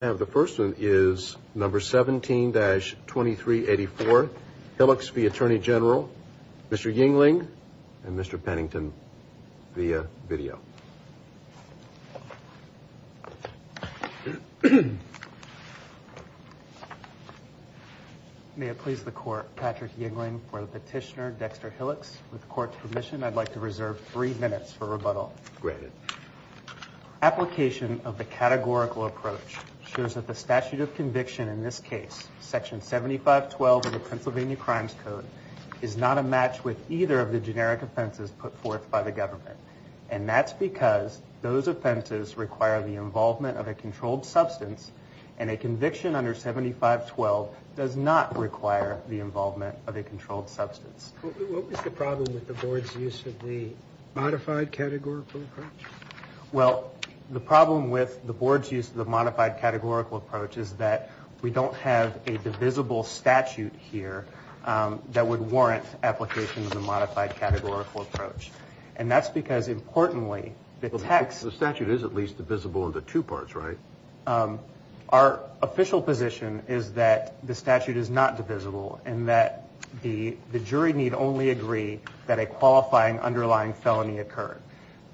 And the first one is number 17-2384, Hillocks v. Attorney General, Mr. Yingling and Mr. Pennington via video. May it please the Court, Patrick Yingling for the petitioner, Dexter Hillocks. With the Court's permission, I'd like to reserve three minutes for rebuttal. Granted. Application of the categorical approach shows that the statute of conviction in this case, section 7512 of the Pennsylvania Crimes Code, is not a match with either of the generic offenses put forth by the government. And that's because those offenses require the involvement of a controlled substance, and a conviction under 7512 does not require the involvement of a controlled substance. What was the problem with the Board's use of the modified categorical approach? Well, the problem with the Board's use of the modified categorical approach is that we don't have a divisible statute here that would warrant application of the modified categorical approach. And that's because, importantly, the text... The statute is at least divisible into two parts, right? Our official position is that the statute is not divisible, and that the jury need only agree that a qualifying underlying felony occurred.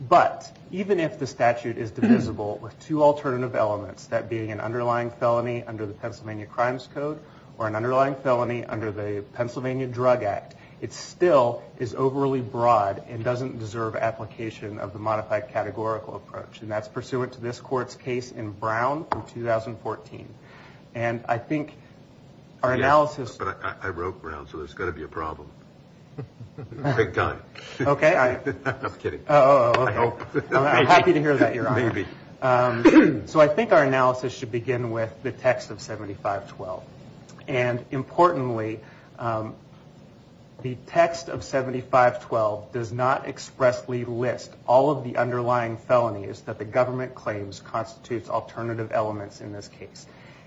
But, even if the statute is divisible with two alternative elements, that being an underlying felony under the Pennsylvania Crimes Code, or an underlying felony under the Pennsylvania Drug Act, it still is overly broad and doesn't deserve application of the modified categorical approach. And that's pursuant to this court's case in Brown in 2014. And I think our analysis... But I wrote Brown, so there's going to be a problem. Big time. Okay, I... I'm just kidding. Oh, okay. I'm happy to hear that, Your Honor. Maybe. So I think our analysis should begin with the text of 7512. And, importantly, the text of 7512 does not expressly list all of the underlying felonies that the government claims constitutes alternative elements in this case.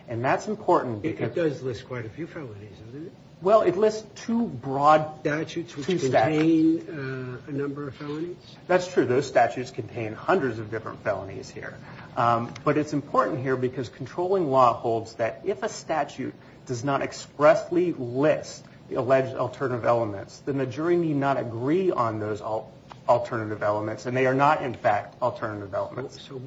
And that's important because... It does list quite a few felonies, doesn't it? Well, it lists two broad statutes which contain a number of felonies. That's true. Those statutes contain hundreds of different felonies here. But it's important here because controlling law holds that if a statute does not expressly list the alleged alternative elements, then the jury need not agree on those alternative elements. So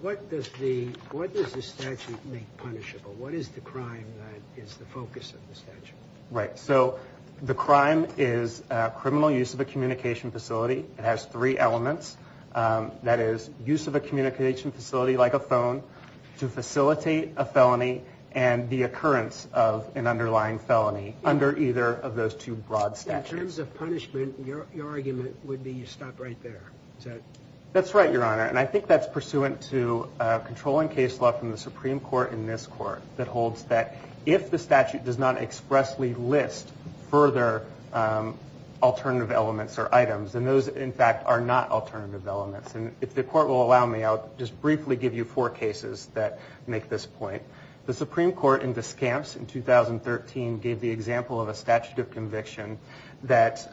what does the... What does the statute make punishable? What is the crime that is the focus of the statute? Right. So the crime is criminal use of a communication facility. It has three elements. That is, use of a communication facility, like a phone, to facilitate a felony, and the occurrence of an underlying felony under either of those two broad statutes. In terms of punishment, your argument would be you stop right there, is that... That's right, Your Honor. And I think that's pursuant to controlling case law from the Supreme Court in this Court that holds that if the statute does not expressly list further alternative elements or items, then those, in fact, are not alternative elements. And if the Court will allow me, I'll just briefly give you four cases that make this point. The Supreme Court in Viscounts in 2013 gave the example of a statute of conviction that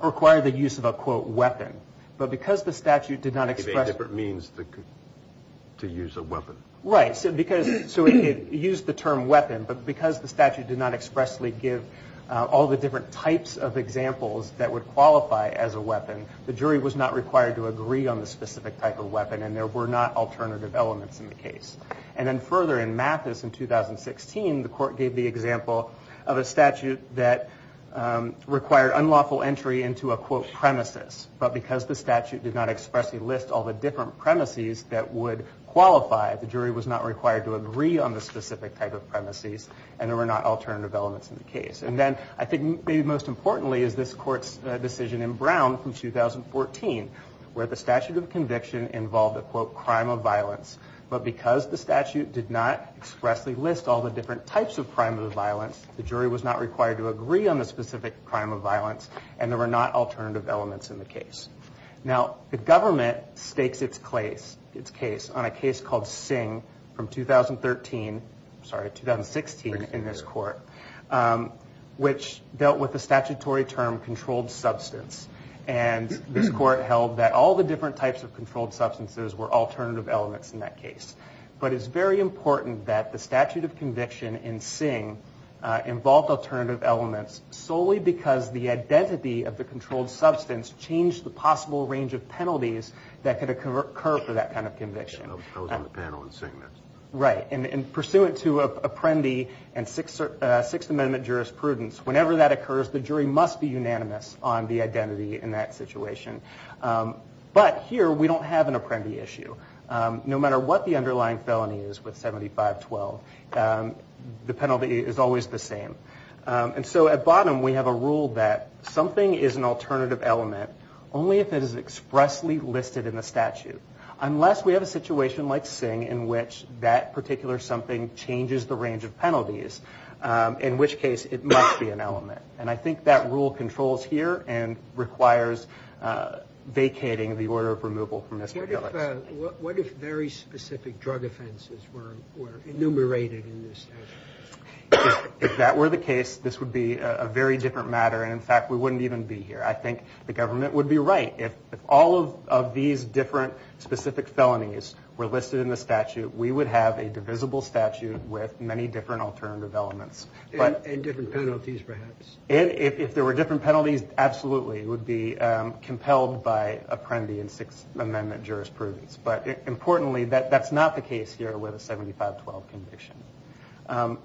required the use of a, quote, weapon. But because the statute did not expressly... It gave a different means to use a weapon. Right. So it used the term weapon, but because the statute did not expressly give all the different types of examples that would qualify as a weapon, the jury was not required to agree on the specific type of weapon, and there were not alternative elements in the case. And then further, in Mathis in 2016, the Court gave the example of a statute that required unlawful entry into a, quote, premises, but because the statute did not expressly list all the different premises that would qualify, the jury was not required to agree on the specific type of premises, and there were not alternative elements in the case. And then I think maybe most importantly is this Court's decision in Brown in 2014, where the statute of conviction involved a, quote, crime of violence, but because the statute did not expressly list all the different types of crime of violence, the jury was not required to agree on the specific crime of violence, and there were not alternative elements in the case. Now, the government stakes its case on a case called Singh from 2013, sorry, 2016 in this Court, which dealt with the statutory term controlled substance, and this Court held that all the different types of controlled substances were alternative elements in that case, but it's very important that the statute of conviction in Singh involved alternative elements solely because the identity of the controlled substance changed the possible range of penalties that could occur for that kind of conviction. I was on the panel in Singh. Right. And pursuant to Apprendi and Sixth Amendment jurisprudence, whenever that occurs, the jury must be unanimous on the identity in that situation. But here, we don't have an Apprendi issue. No matter what the underlying felony is with 7512, the penalty is always the same. And so at bottom, we have a rule that something is an alternative element only if it is expressly listed in the statute, unless we have a situation like Singh in which that particular something changes the range of penalties, in which case it must be an element. And I think that rule controls here and requires vacating the order of removal from Mr. Gillis. What if very specific drug offenses were enumerated in the statute? If that were the case, this would be a very different matter, and in fact, we wouldn't even be here. I think the government would be right. If all of these different specific felonies were listed in the statute, we would have a divisible statute with many different alternative elements. And different penalties, perhaps. If there were different penalties, absolutely. It would be compelled by Apprendi and Sixth Amendment jurisprudence. But importantly, that's not the case here with a 7512 conviction.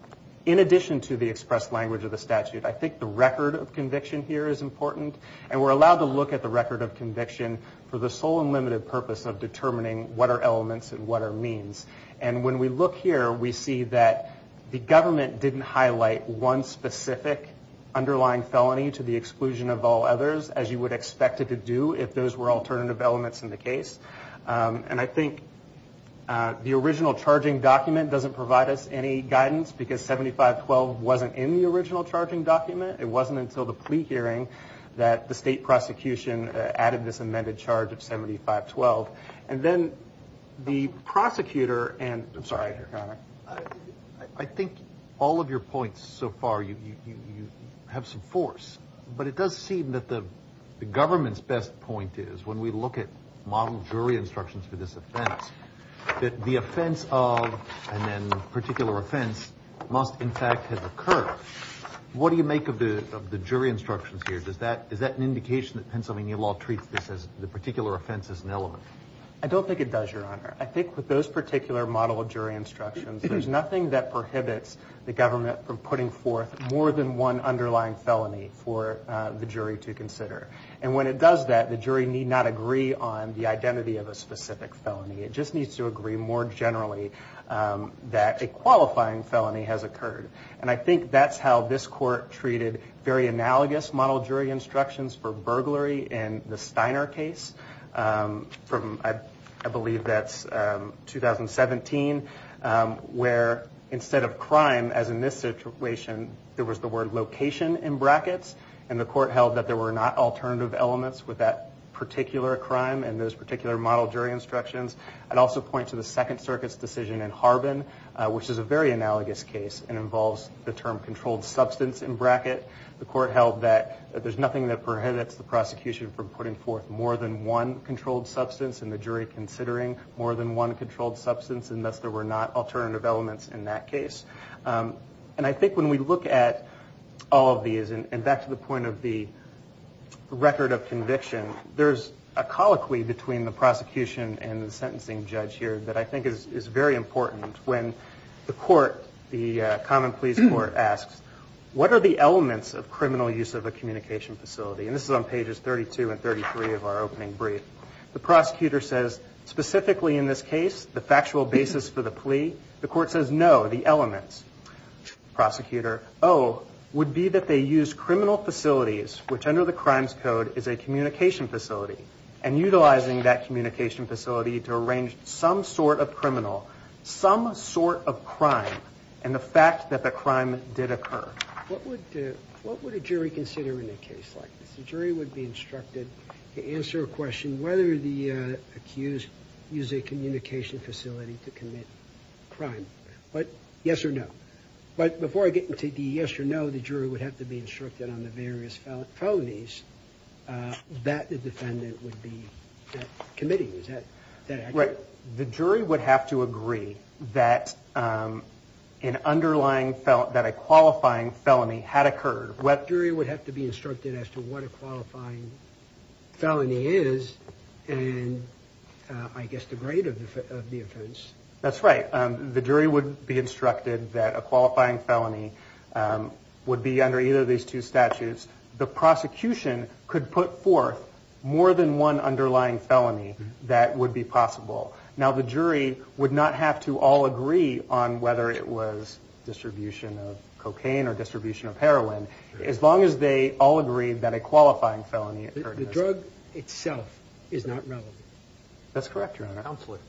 In addition to the expressed language of the statute, I think the record of conviction here is important. And we're allowed to look at the record of conviction for the sole and limited purpose of determining what are elements and what are means. And when we look here, we see that the government didn't highlight one specific underlying felony to the exclusion of all others, as you would expect it to do if those were alternative elements in the case. And I think the original charging document doesn't provide us any guidance because 7512 wasn't in the original charging document. It wasn't until the plea hearing that the state prosecution added this amended charge of 7512. And then the prosecutor and, I'm sorry, Your Honor. I think all of your points so far, you have some force. But it does seem that the government's best point is, when we look at model jury instructions for this offense, that the offense of, and then the particular offense, must in fact have occurred. What do you make of the jury instructions here? Is that an indication that Pennsylvania law treats this as the particular offense as an element? I don't think it does, Your Honor. I think with those particular model jury instructions, there's nothing that prohibits the government from putting forth more than one underlying felony for the jury to consider. And when it does that, the jury need not agree on the identity of a specific felony. It just needs to agree more generally that a qualifying felony has occurred. And I think that's how this court treated very analogous model jury instructions for burglary in the Steiner case from, I believe that's 2017, where instead of crime, as in this situation, there was the word location in brackets. And the court held that there were not alternative elements with that particular crime and those particular model jury instructions. I'd also point to the Second Circuit's decision in Harbin, which is a very analogous case and involves the term controlled substance in bracket. The court held that there's nothing that prohibits the prosecution from putting forth more than one controlled substance and the jury considering more than one controlled substance, and thus there were not alternative elements in that case. And I think when we look at all of these, and back to the point of the record of conviction, there's a colloquy between the prosecution and the sentencing judge here that I think is very important. When the court, the common pleas court asks, what are the elements of criminal use of a communication facility? And this is on pages 32 and 33 of our opening brief. The prosecutor says, specifically in this case, the factual basis for the plea. The court says, no, the elements. Prosecutor, oh, would be that they use criminal facilities, which under the Crimes Code is a communication facility, and utilizing that communication facility to arrange some sort of criminal, some sort of crime, and the fact that the crime did occur. What would a jury consider in a case like this? The jury would be instructed to answer a question, whether the accused used a communication facility to commit crime, but yes or no. But before I get into the yes or no, the jury would have to be instructed on the various felonies that the defendant would be committing. Is that accurate? Right. The jury would have to agree that an underlying, that a qualifying felony had occurred. The jury would have to be instructed as to what a qualifying felony is, and I guess the grade of the offense. That's right. The jury would be instructed that a qualifying felony would be under either of these two statutes. The prosecution could put forth more than one underlying felony that would be possible. Now, the jury would not have to all agree on whether it was distribution of cocaine or distribution of heroin, as long as they all agreed that a qualifying felony occurred. The drug itself is not relevant. That's correct, Your Honor. Absolutely.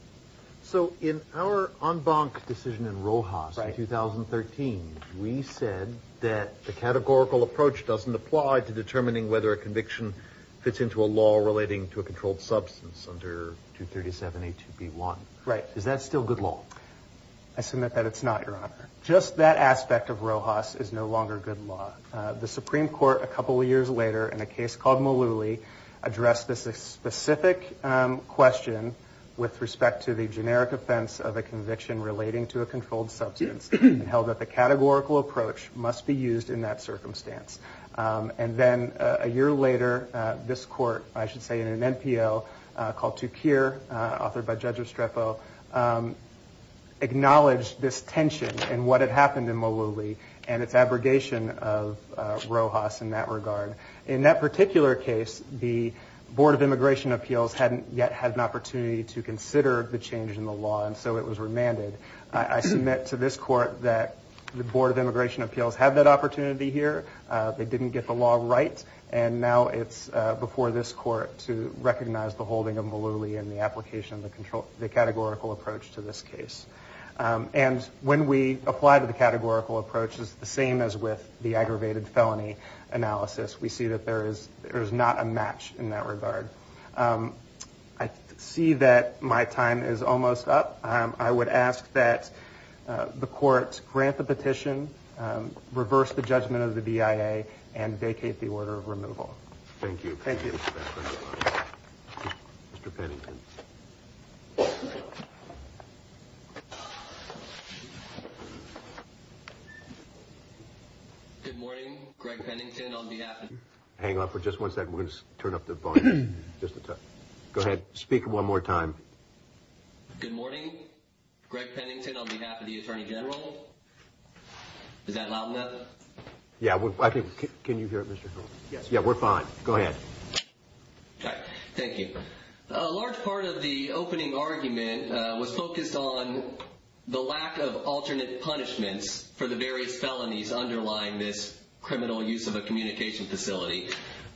So in our en banc decision in Rojas in 2013, we said that the categorical approach doesn't apply to determining whether a conviction fits into a law relating to a controlled substance under 237A2B1. Right. Is that still good law? I submit that it's not, Your Honor. Just that aspect of Rojas is no longer good law. The Supreme Court, a couple of years later, in a case called Mullooly, addressed this specific question with respect to the generic offense of a conviction relating to a controlled substance, and held that the categorical approach must be used in that circumstance. And then a year later, this court, I should say in an NPO, called Tukir, authored by Judge and what had happened in Mullooly and its abrogation of Rojas in that regard. In that particular case, the Board of Immigration Appeals hadn't yet had an opportunity to consider the change in the law, and so it was remanded. I submit to this court that the Board of Immigration Appeals had that opportunity here. They didn't get the law right, and now it's before this court to recognize the holding of Mullooly and the application of the categorical approach to this case. And when we apply the categorical approach, it's the same as with the aggravated felony analysis. We see that there is not a match in that regard. I see that my time is almost up. I would ask that the court grant the petition, reverse the judgment of the BIA, and vacate the order of removal. Thank you. Thank you. Mr. Pennington. Good morning. Greg Pennington on behalf of the Attorney General. Hang on for just one second. We're going to turn up the volume just a touch. Go ahead. Speak one more time. Good morning. Greg Pennington on behalf of the Attorney General. Is that loud enough? Yeah. Can you hear me? Yeah, we're fine. Go ahead. Thank you. A large part of the opening argument was focused on the lack of alternate punishments for the various felonies underlying this criminal use of a communication facility.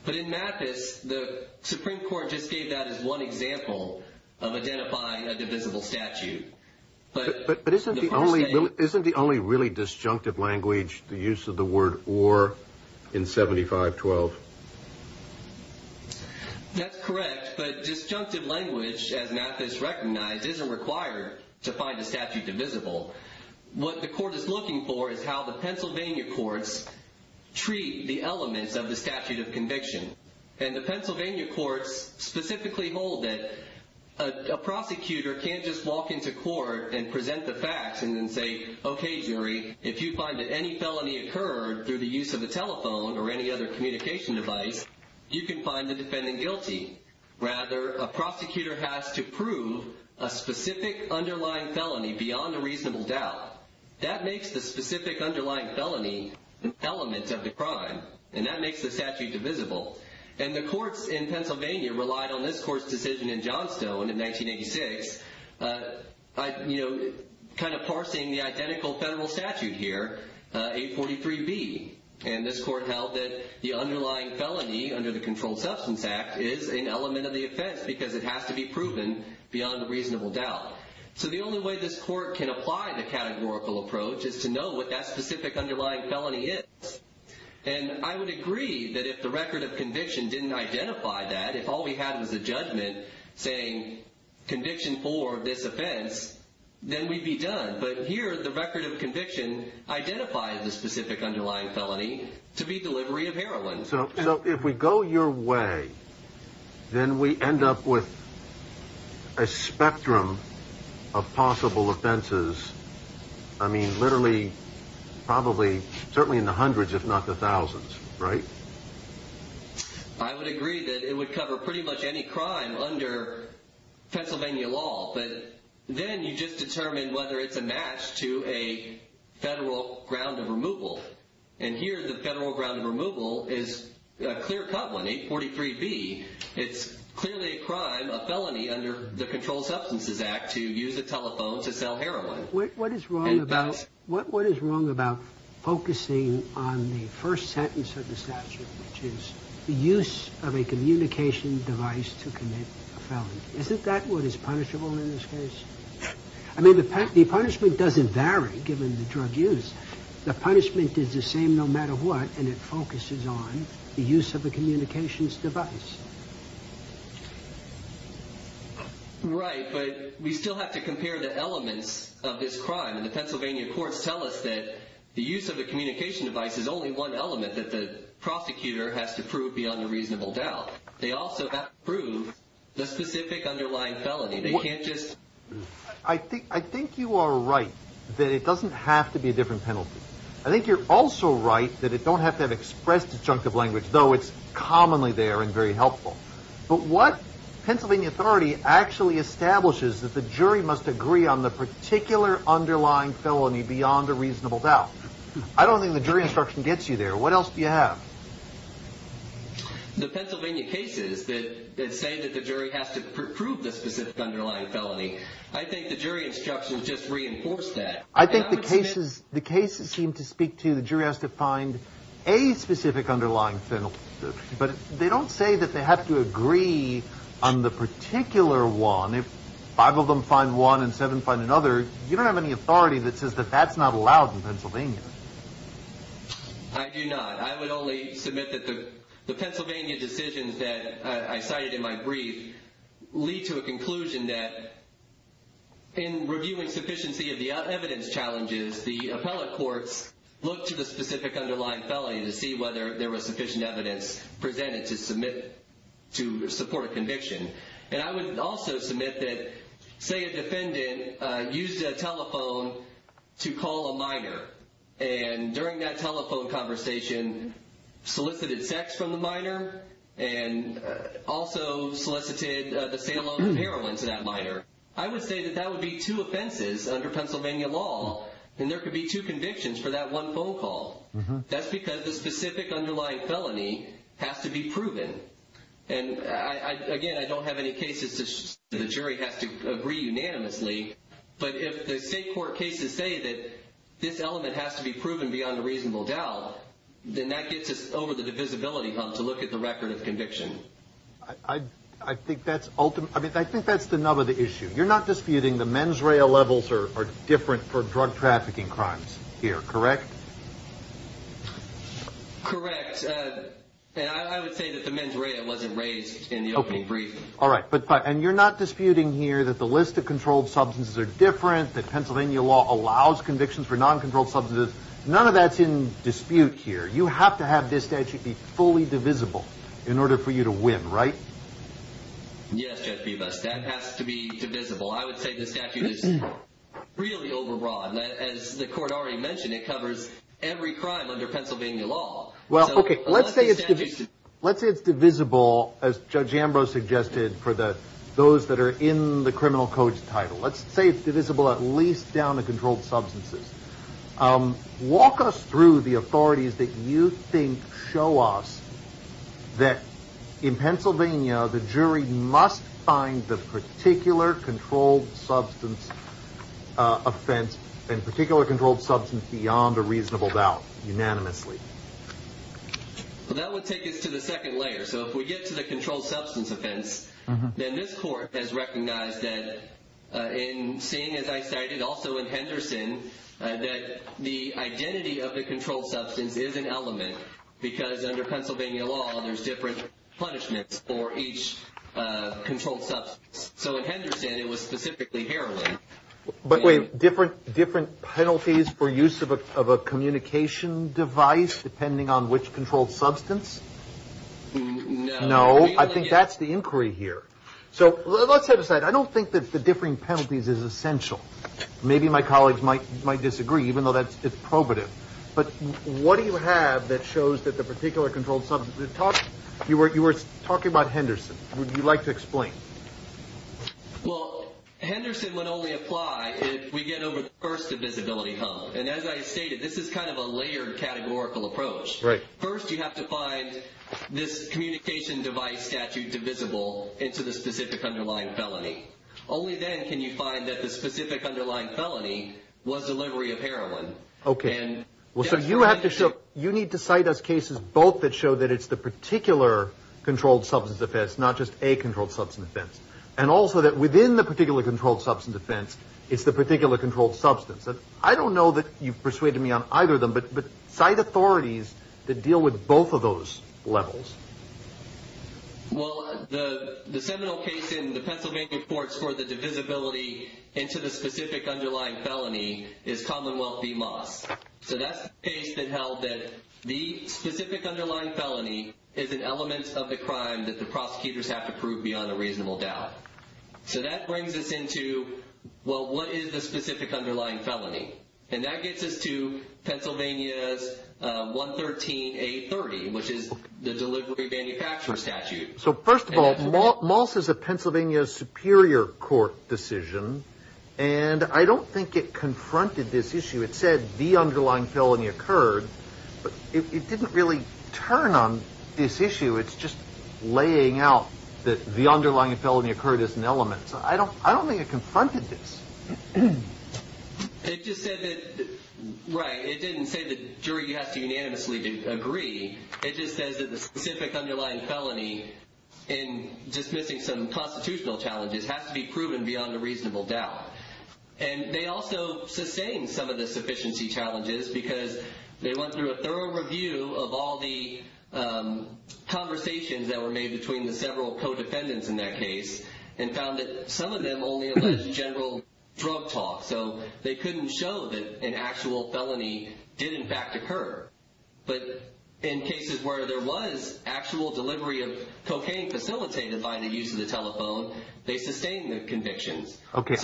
But in Mathis, the Supreme Court just gave that as one example of identifying a divisible statute. But isn't the only really disjunctive language the use of the word or in 7512? That's correct. But disjunctive language, as Mathis recognized, isn't required to find a statute divisible. What the court is looking for is how the Pennsylvania courts treat the elements of the statute of conviction. And the Pennsylvania courts specifically hold that a prosecutor can't just walk into court and present the facts and then say, Okay, jury, if you find that any felony occurred through the use of a telephone or any other communication device, you can find the defendant guilty. Rather, a prosecutor has to prove a specific underlying felony beyond a reasonable doubt. That makes the specific underlying felony an element of the crime. And that makes the statute divisible. And the courts in Pennsylvania relied on this court's decision in Johnstone in 1986, kind of parsing the identical federal statute here, 843B. And this court held that the underlying felony under the Controlled Substance Act is an element of the offense because it has to be proven beyond a reasonable doubt. So the only way this court can apply the categorical approach is to know what that specific underlying felony is. And I would agree that if the record of conviction didn't identify that, if all we had was a judgment saying conviction for this offense, then we'd be done. But here, the record of conviction identifies the specific underlying felony to be delivery of heroin. So if we go your way, then we end up with a spectrum of possible offenses. I mean, literally, probably, certainly in the hundreds, if not the thousands, right? I would agree that it would cover pretty much any crime under Pennsylvania law. But then you just determine whether it's a match to a federal ground of removal. And here, the federal ground of removal is a clear cut one, 843B. It's clearly a crime, a felony, under the Controlled Substances Act to use a telephone to sell heroin. What is wrong about focusing on the first sentence of the statute, which is the use of a communication device to commit a felony? Isn't that what is punishable in this case? I mean, the punishment doesn't vary given the drug use. The punishment is the same no matter what, and it focuses on the use of a communications device. Right, but we still have to compare the elements of this crime. And the Pennsylvania courts tell us that the use of a communication device is only one element that the prosecutor has to prove beyond a reasonable doubt. They also have to prove the specific underlying felony. I think you are right that it doesn't have to be a different penalty. I think you're also right that it don't have to have expressed a chunk of language, though it's commonly there and very helpful. But what Pennsylvania authority actually establishes that the jury must agree on the particular underlying felony beyond a reasonable doubt? I don't think the jury instruction gets you there. What else do you have? The Pennsylvania cases that say that the jury has to prove the specific underlying felony, I think the jury instruction just reinforced that. I think the cases seem to speak to the jury has to find a specific underlying felony, but they don't say that they have to agree on the particular one. If five of them find one and seven find another, you don't have any authority that says that that's not allowed in Pennsylvania. I do not. I would only submit that the Pennsylvania decisions that I cited in my brief lead to a conclusion that in reviewing sufficiency of the evidence challenges, the appellate courts look to the specific underlying felony to see whether there was sufficient evidence presented to support a conviction. I would also submit that say a defendant used a telephone to call a minor and during that telephone conversation solicited sex from the minor and also solicited the sale of heroin to that minor. I would say that that would be two offenses under Pennsylvania law, and there could be two convictions for that one phone call. That's because the specific underlying felony has to be proven. Again, I don't have any cases that the jury has to agree unanimously, but if the state court cases say that this element has to be proven beyond a reasonable doubt, then that gets us over the divisibility hub to look at the record of conviction. I think that's the nub of the issue. You're not disputing the mens rea levels are different for drug trafficking crimes here, correct? Correct. I would say that the mens rea wasn't raised in the opening brief. All right. And you're not disputing here that the list of controlled substances are different, that Pennsylvania law allows convictions for non-controlled substances? None of that's in dispute here. You have to have this statute be fully divisible in order for you to win, right? Yes, Judge Bibas, that has to be divisible. I would say the statute is really overbroad. As the court already mentioned, it covers every crime under Pennsylvania law. Let's say it's divisible, as Judge Ambrose suggested, for those that are in the criminal codes title. Let's say it's divisible at least down to controlled substances. Walk us through the authorities that you think show us that in Pennsylvania, the jury must find the particular controlled substance offense and particular controlled substance beyond a reasonable doubt unanimously. That would take us to the second layer. If we get to the controlled substance offense, then this court has recognized that in seeing, as I cited also in Henderson, that the identity of the controlled substance is an element because under Pennsylvania law, there's different punishments for each controlled substance. So in Henderson, it was specifically heroin. But wait, different penalties for use of a communication device depending on which controlled substance? No. No, I think that's the inquiry here. So let's set aside. I don't think that the differing penalties is essential. Maybe my colleagues might disagree, even though it's probative. But what do you have that shows that the particular controlled substance... You were talking about Henderson. Would you like to explain? Well, Henderson would only apply if we get over the first divisibility hump. And as I stated, this is kind of a layered categorical approach. First, you have to find this communication device statute divisible into the specific underlying felony. Only then can you find that the specific underlying felony was delivery of heroin. Okay. So you need to cite us cases both that show that it's the particular controlled substance offense, not just a controlled substance offense. And also that within the particular controlled substance offense, it's the particular controlled substance. I don't know that you've persuaded me on either of them, but cite authorities that deal with both of those levels. Well, the seminal case in the Pennsylvania courts for the divisibility into the specific underlying felony is Commonwealth v. Moss. So that's the case that held that the specific underlying felony is an element of the crime that the prosecutors have to prove beyond a reasonable doubt. So that brings us into, well, what is the specific underlying felony? And that gets us to Pennsylvania's 113A30, which is the delivery manufacturer statute. So first of all, Moss is a Pennsylvania Superior Court decision, and I don't think it confronted this issue. It said the underlying felony occurred, but it didn't really turn on this issue. It's just laying out that the underlying felony occurred as an element. So I don't think it confronted this. It just said that, right, it didn't say the jury has to unanimously agree. It just says that the specific underlying felony in dismissing some constitutional challenges has to be proven beyond a reasonable doubt. And they also sustained some of the sufficiency challenges because they went through a thorough review of all the conversations that were made between the several co-defendants in that case and found that some of them only alleged general drug talk. So they couldn't show that an actual felony did in fact occur. But in cases where there was actual delivery of cocaine facilitated by the use of the telephone, they sustained the convictions. Okay,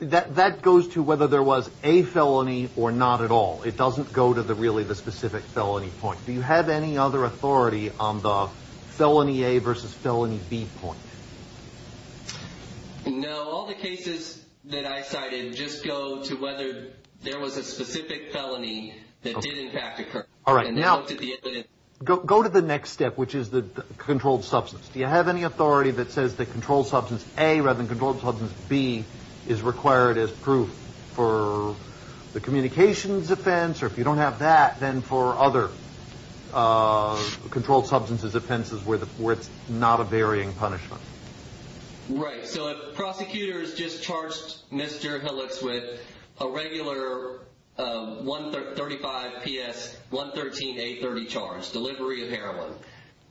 that goes to whether there was a felony or not at all. It doesn't go to really the specific felony point. Do you have any other authority on the felony A versus felony B point? No. All the cases that I cited just go to whether there was a specific felony that did in fact occur. Go to the next step, which is the controlled substance. Do you have any authority that says that controlled substance A rather than controlled substance B is required as proof for the communications offense or if you don't have that, then for other controlled substances offenses where it's not a varying punishment? Right. So if prosecutors just charged Mr. Hillicks with a regular 135PS113A30 charge, delivery of heroin,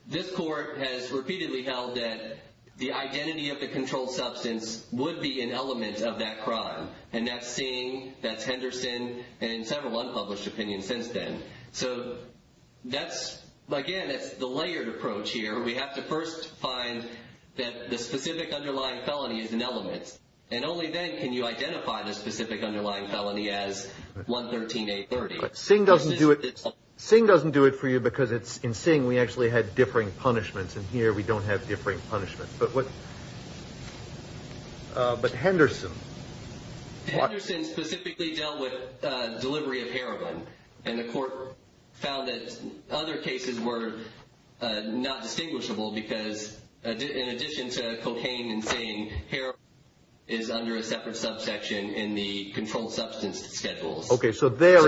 this court has repeatedly held that the identity of the controlled substance would be an element of that crime. And that's Singh, that's Henderson, and several unpublished opinions since then. So that's, again, it's the layered approach here. We have to first find that the specific underlying felony is an element and only then can you identify the specific underlying felony as 113A30. But Singh doesn't do it for you because in Singh we actually had differing punishments and here we don't have differing punishments. But Henderson? Henderson specifically dealt with delivery of heroin and the court found that other cases were not distinguishable because in addition to cocaine and Singh, heroin is under a separate subsection in the controlled substance schedules. Okay, so there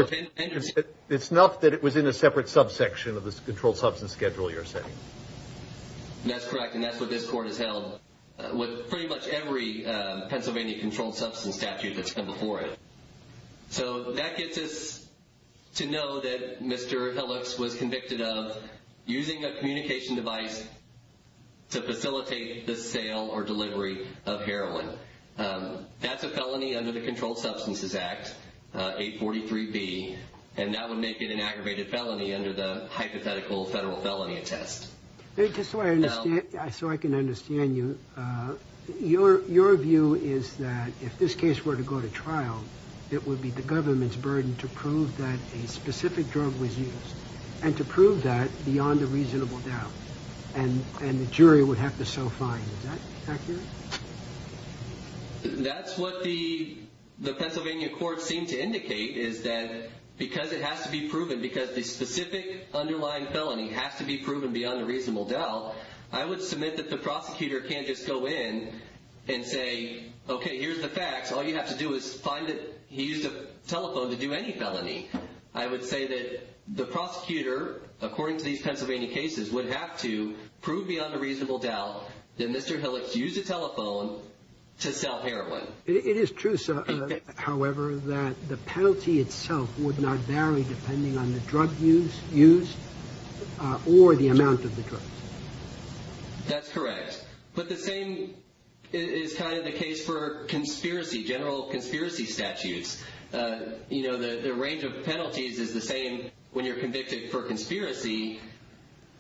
it's enough that it was in a separate subsection of the controlled substance schedule you're saying? That's correct and that's what this court has held with pretty much every Pennsylvania controlled substance statute that's come before it. So that gets us to know that Mr. Phillips was convicted of using a communication device to facilitate the sale or delivery of heroin. That's a felony under the Controlled Substances Act, 843B, and that would make it an aggravated felony under the hypothetical federal felony test. Just so I can understand you, your view is that if this case were to go to trial, it would be the government's burden to prove that a specific drug was used and to prove that beyond a reasonable doubt and the jury would have to so find, is that accurate? That's what the Pennsylvania court seemed to indicate is that because it has to be proven, because the specific underlying felony has to be proven beyond a reasonable doubt, I would submit that the prosecutor can't just go in and say, okay, here's the facts. All you have to do is find that he used a telephone to do any felony. I would say that the prosecutor, according to these Pennsylvania cases, would have to prove beyond a reasonable doubt that Mr. Phillips used a telephone to sell heroin. It is true, sir, however, that the penalty itself would not vary depending on the drug used or the amount of the drug. That's correct. But the same is kind of the case for conspiracy, general conspiracy statutes. The range of penalties is the same when you're convicted for conspiracy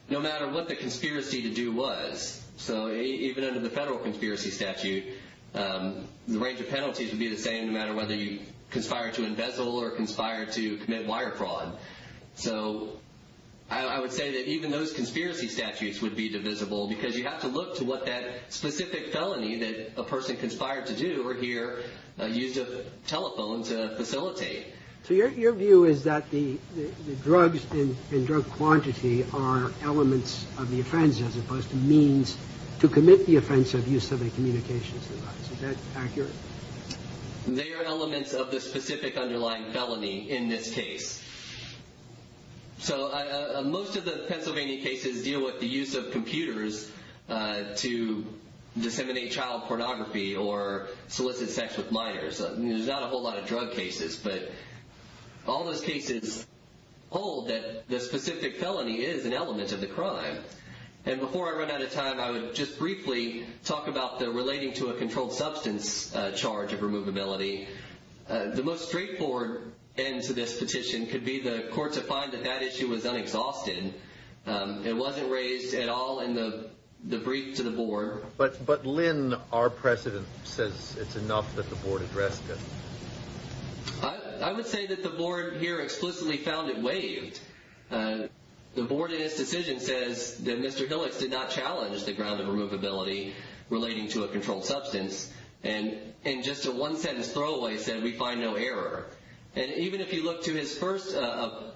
no matter what the conspiracy to do was. So even under the federal conspiracy statute, the range of penalties would be the same no matter whether you conspire to embezzle or conspire to commit wire fraud. So I would say that even those conspiracy statutes would be divisible because you have to look to what that specific felony that a person conspired to do or here used a telephone to facilitate. So your view is that the drugs and drug quantity are elements of the offense as opposed to means to commit the offense of use of a communications device. Is that accurate? They are elements of the specific underlying felony in this case. So most of the Pennsylvania cases deal with the use of computers to disseminate child pornography or solicit sex with minors. There's not a whole lot of drug cases, but all those cases hold that the specific felony is an element of the crime. And before I run out of time, I would just briefly talk about the relating to a controlled substance charge of removability. The most straightforward end to this petition could be the court to find that that issue was unexhausted. It wasn't raised at all in the brief to the board. But Lynn, our president, says it's enough that the board address it. I would say that the board here explicitly found it waived. The board in its decision says that Mr. Hillis did not challenge the ground of removability relating to a controlled substance. And in just a one sentence throwaway said, we find no error. And even if you look to his first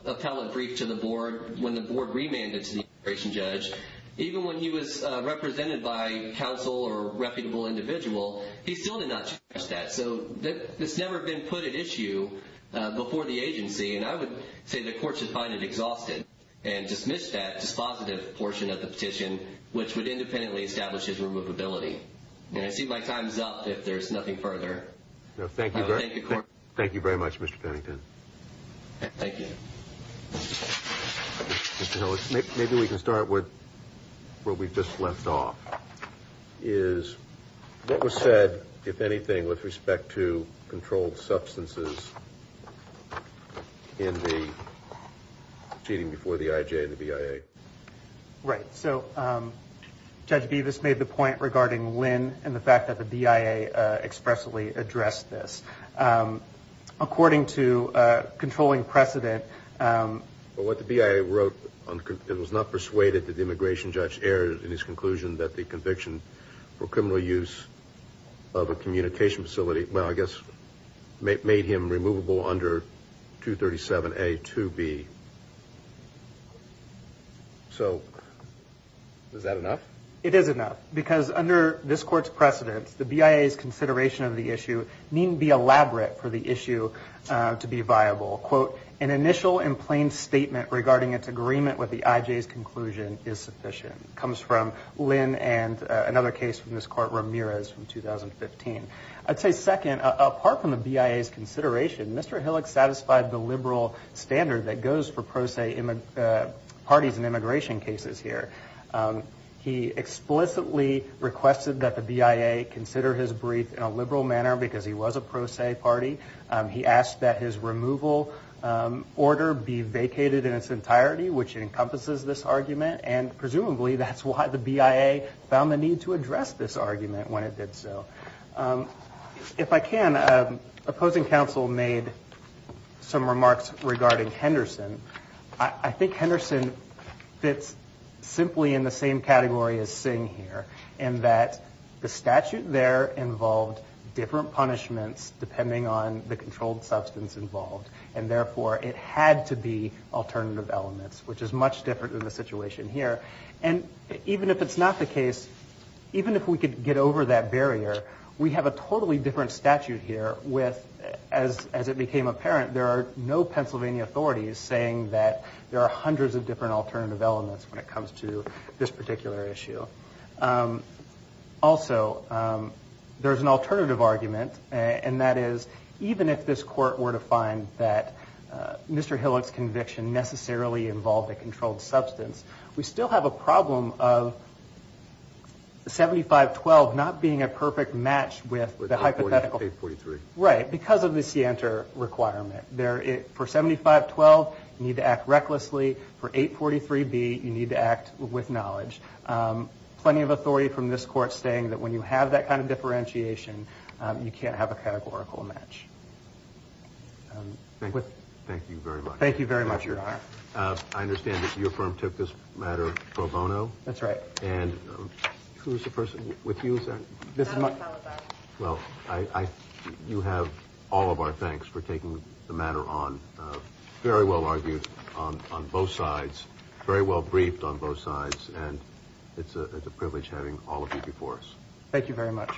appellate brief to the board, when the board remanded to the immigration judge, even when he was represented by counsel or a reputable individual, he still did not challenge that. So it's never been put at issue before the agency. And I would say the court should find it exhausted and dismiss that dispositive portion of the petition, which would independently establish his removability. And I see my time's up, if there's nothing further. Thank you very much, Mr. Pennington. Thank you. Mr. Hillis, maybe we can start with what we've just left off. Is what was said, if anything, with respect to controlled substances in the proceeding before the IJ and the BIA? Right. So, Judge Bevis made the point regarding when and the fact that the BIA expressly addressed this. According to controlling precedent... But what the BIA wrote, it was not persuaded that the immigration judge erred in his conclusion that the conviction for criminal use of a communication facility, well, I guess, made him removable under 237A, 2B. So, is that enough? It is enough, because under this court's precedence, the BIA's consideration of the issue needn't be elaborate for the issue to be viable. Quote, an initial and plain statement regarding its agreement with the IJ's conclusion is sufficient. Comes from Lynn and another case from this court, Ramirez, from 2015. I'd say second, apart from the BIA's consideration, Mr. Hillis satisfied the liberal standard that goes for pro se parties in immigration cases here. He explicitly requested that the BIA consider his brief in a liberal manner, because he was a pro se party. He asked that his removal order be vacated in its entirety, which encompasses this argument, and presumably, that's why the BIA found the need to address this argument when it did so. If I can, opposing counsel made some remarks regarding Henderson. I think Henderson fits simply in the same category as Singh here, in that the statute there involved different punishments depending on the controlled substance involved. And therefore, it had to be alternative elements, which is much different in the situation here. And even if it's not the case, even if we could get over that barrier, we have a totally different statute here with, as it became apparent, there are no Pennsylvania authorities saying that there are hundreds of different alternative elements when it comes to this particular issue. Also, there's an alternative argument, and that is, even if this court were to find that Mr. Hillis' conviction necessarily involved a controlled substance, we still have a problem of 75-12 not being a perfect match with the hypothetical. Right, because of the scienter requirement. For 75-12, you need to act recklessly. For 843-B, you need to act with knowledge. Plenty of authority from this court saying that when you have that kind of differentiation, you can't have a categorical match. Thank you very much. I understand that your firm took this matter pro bono. That's right. You have all of our thanks for taking the matter on. Very well argued on both sides. Very well briefed on both sides. It's a privilege having all of you before us. Thank you very much.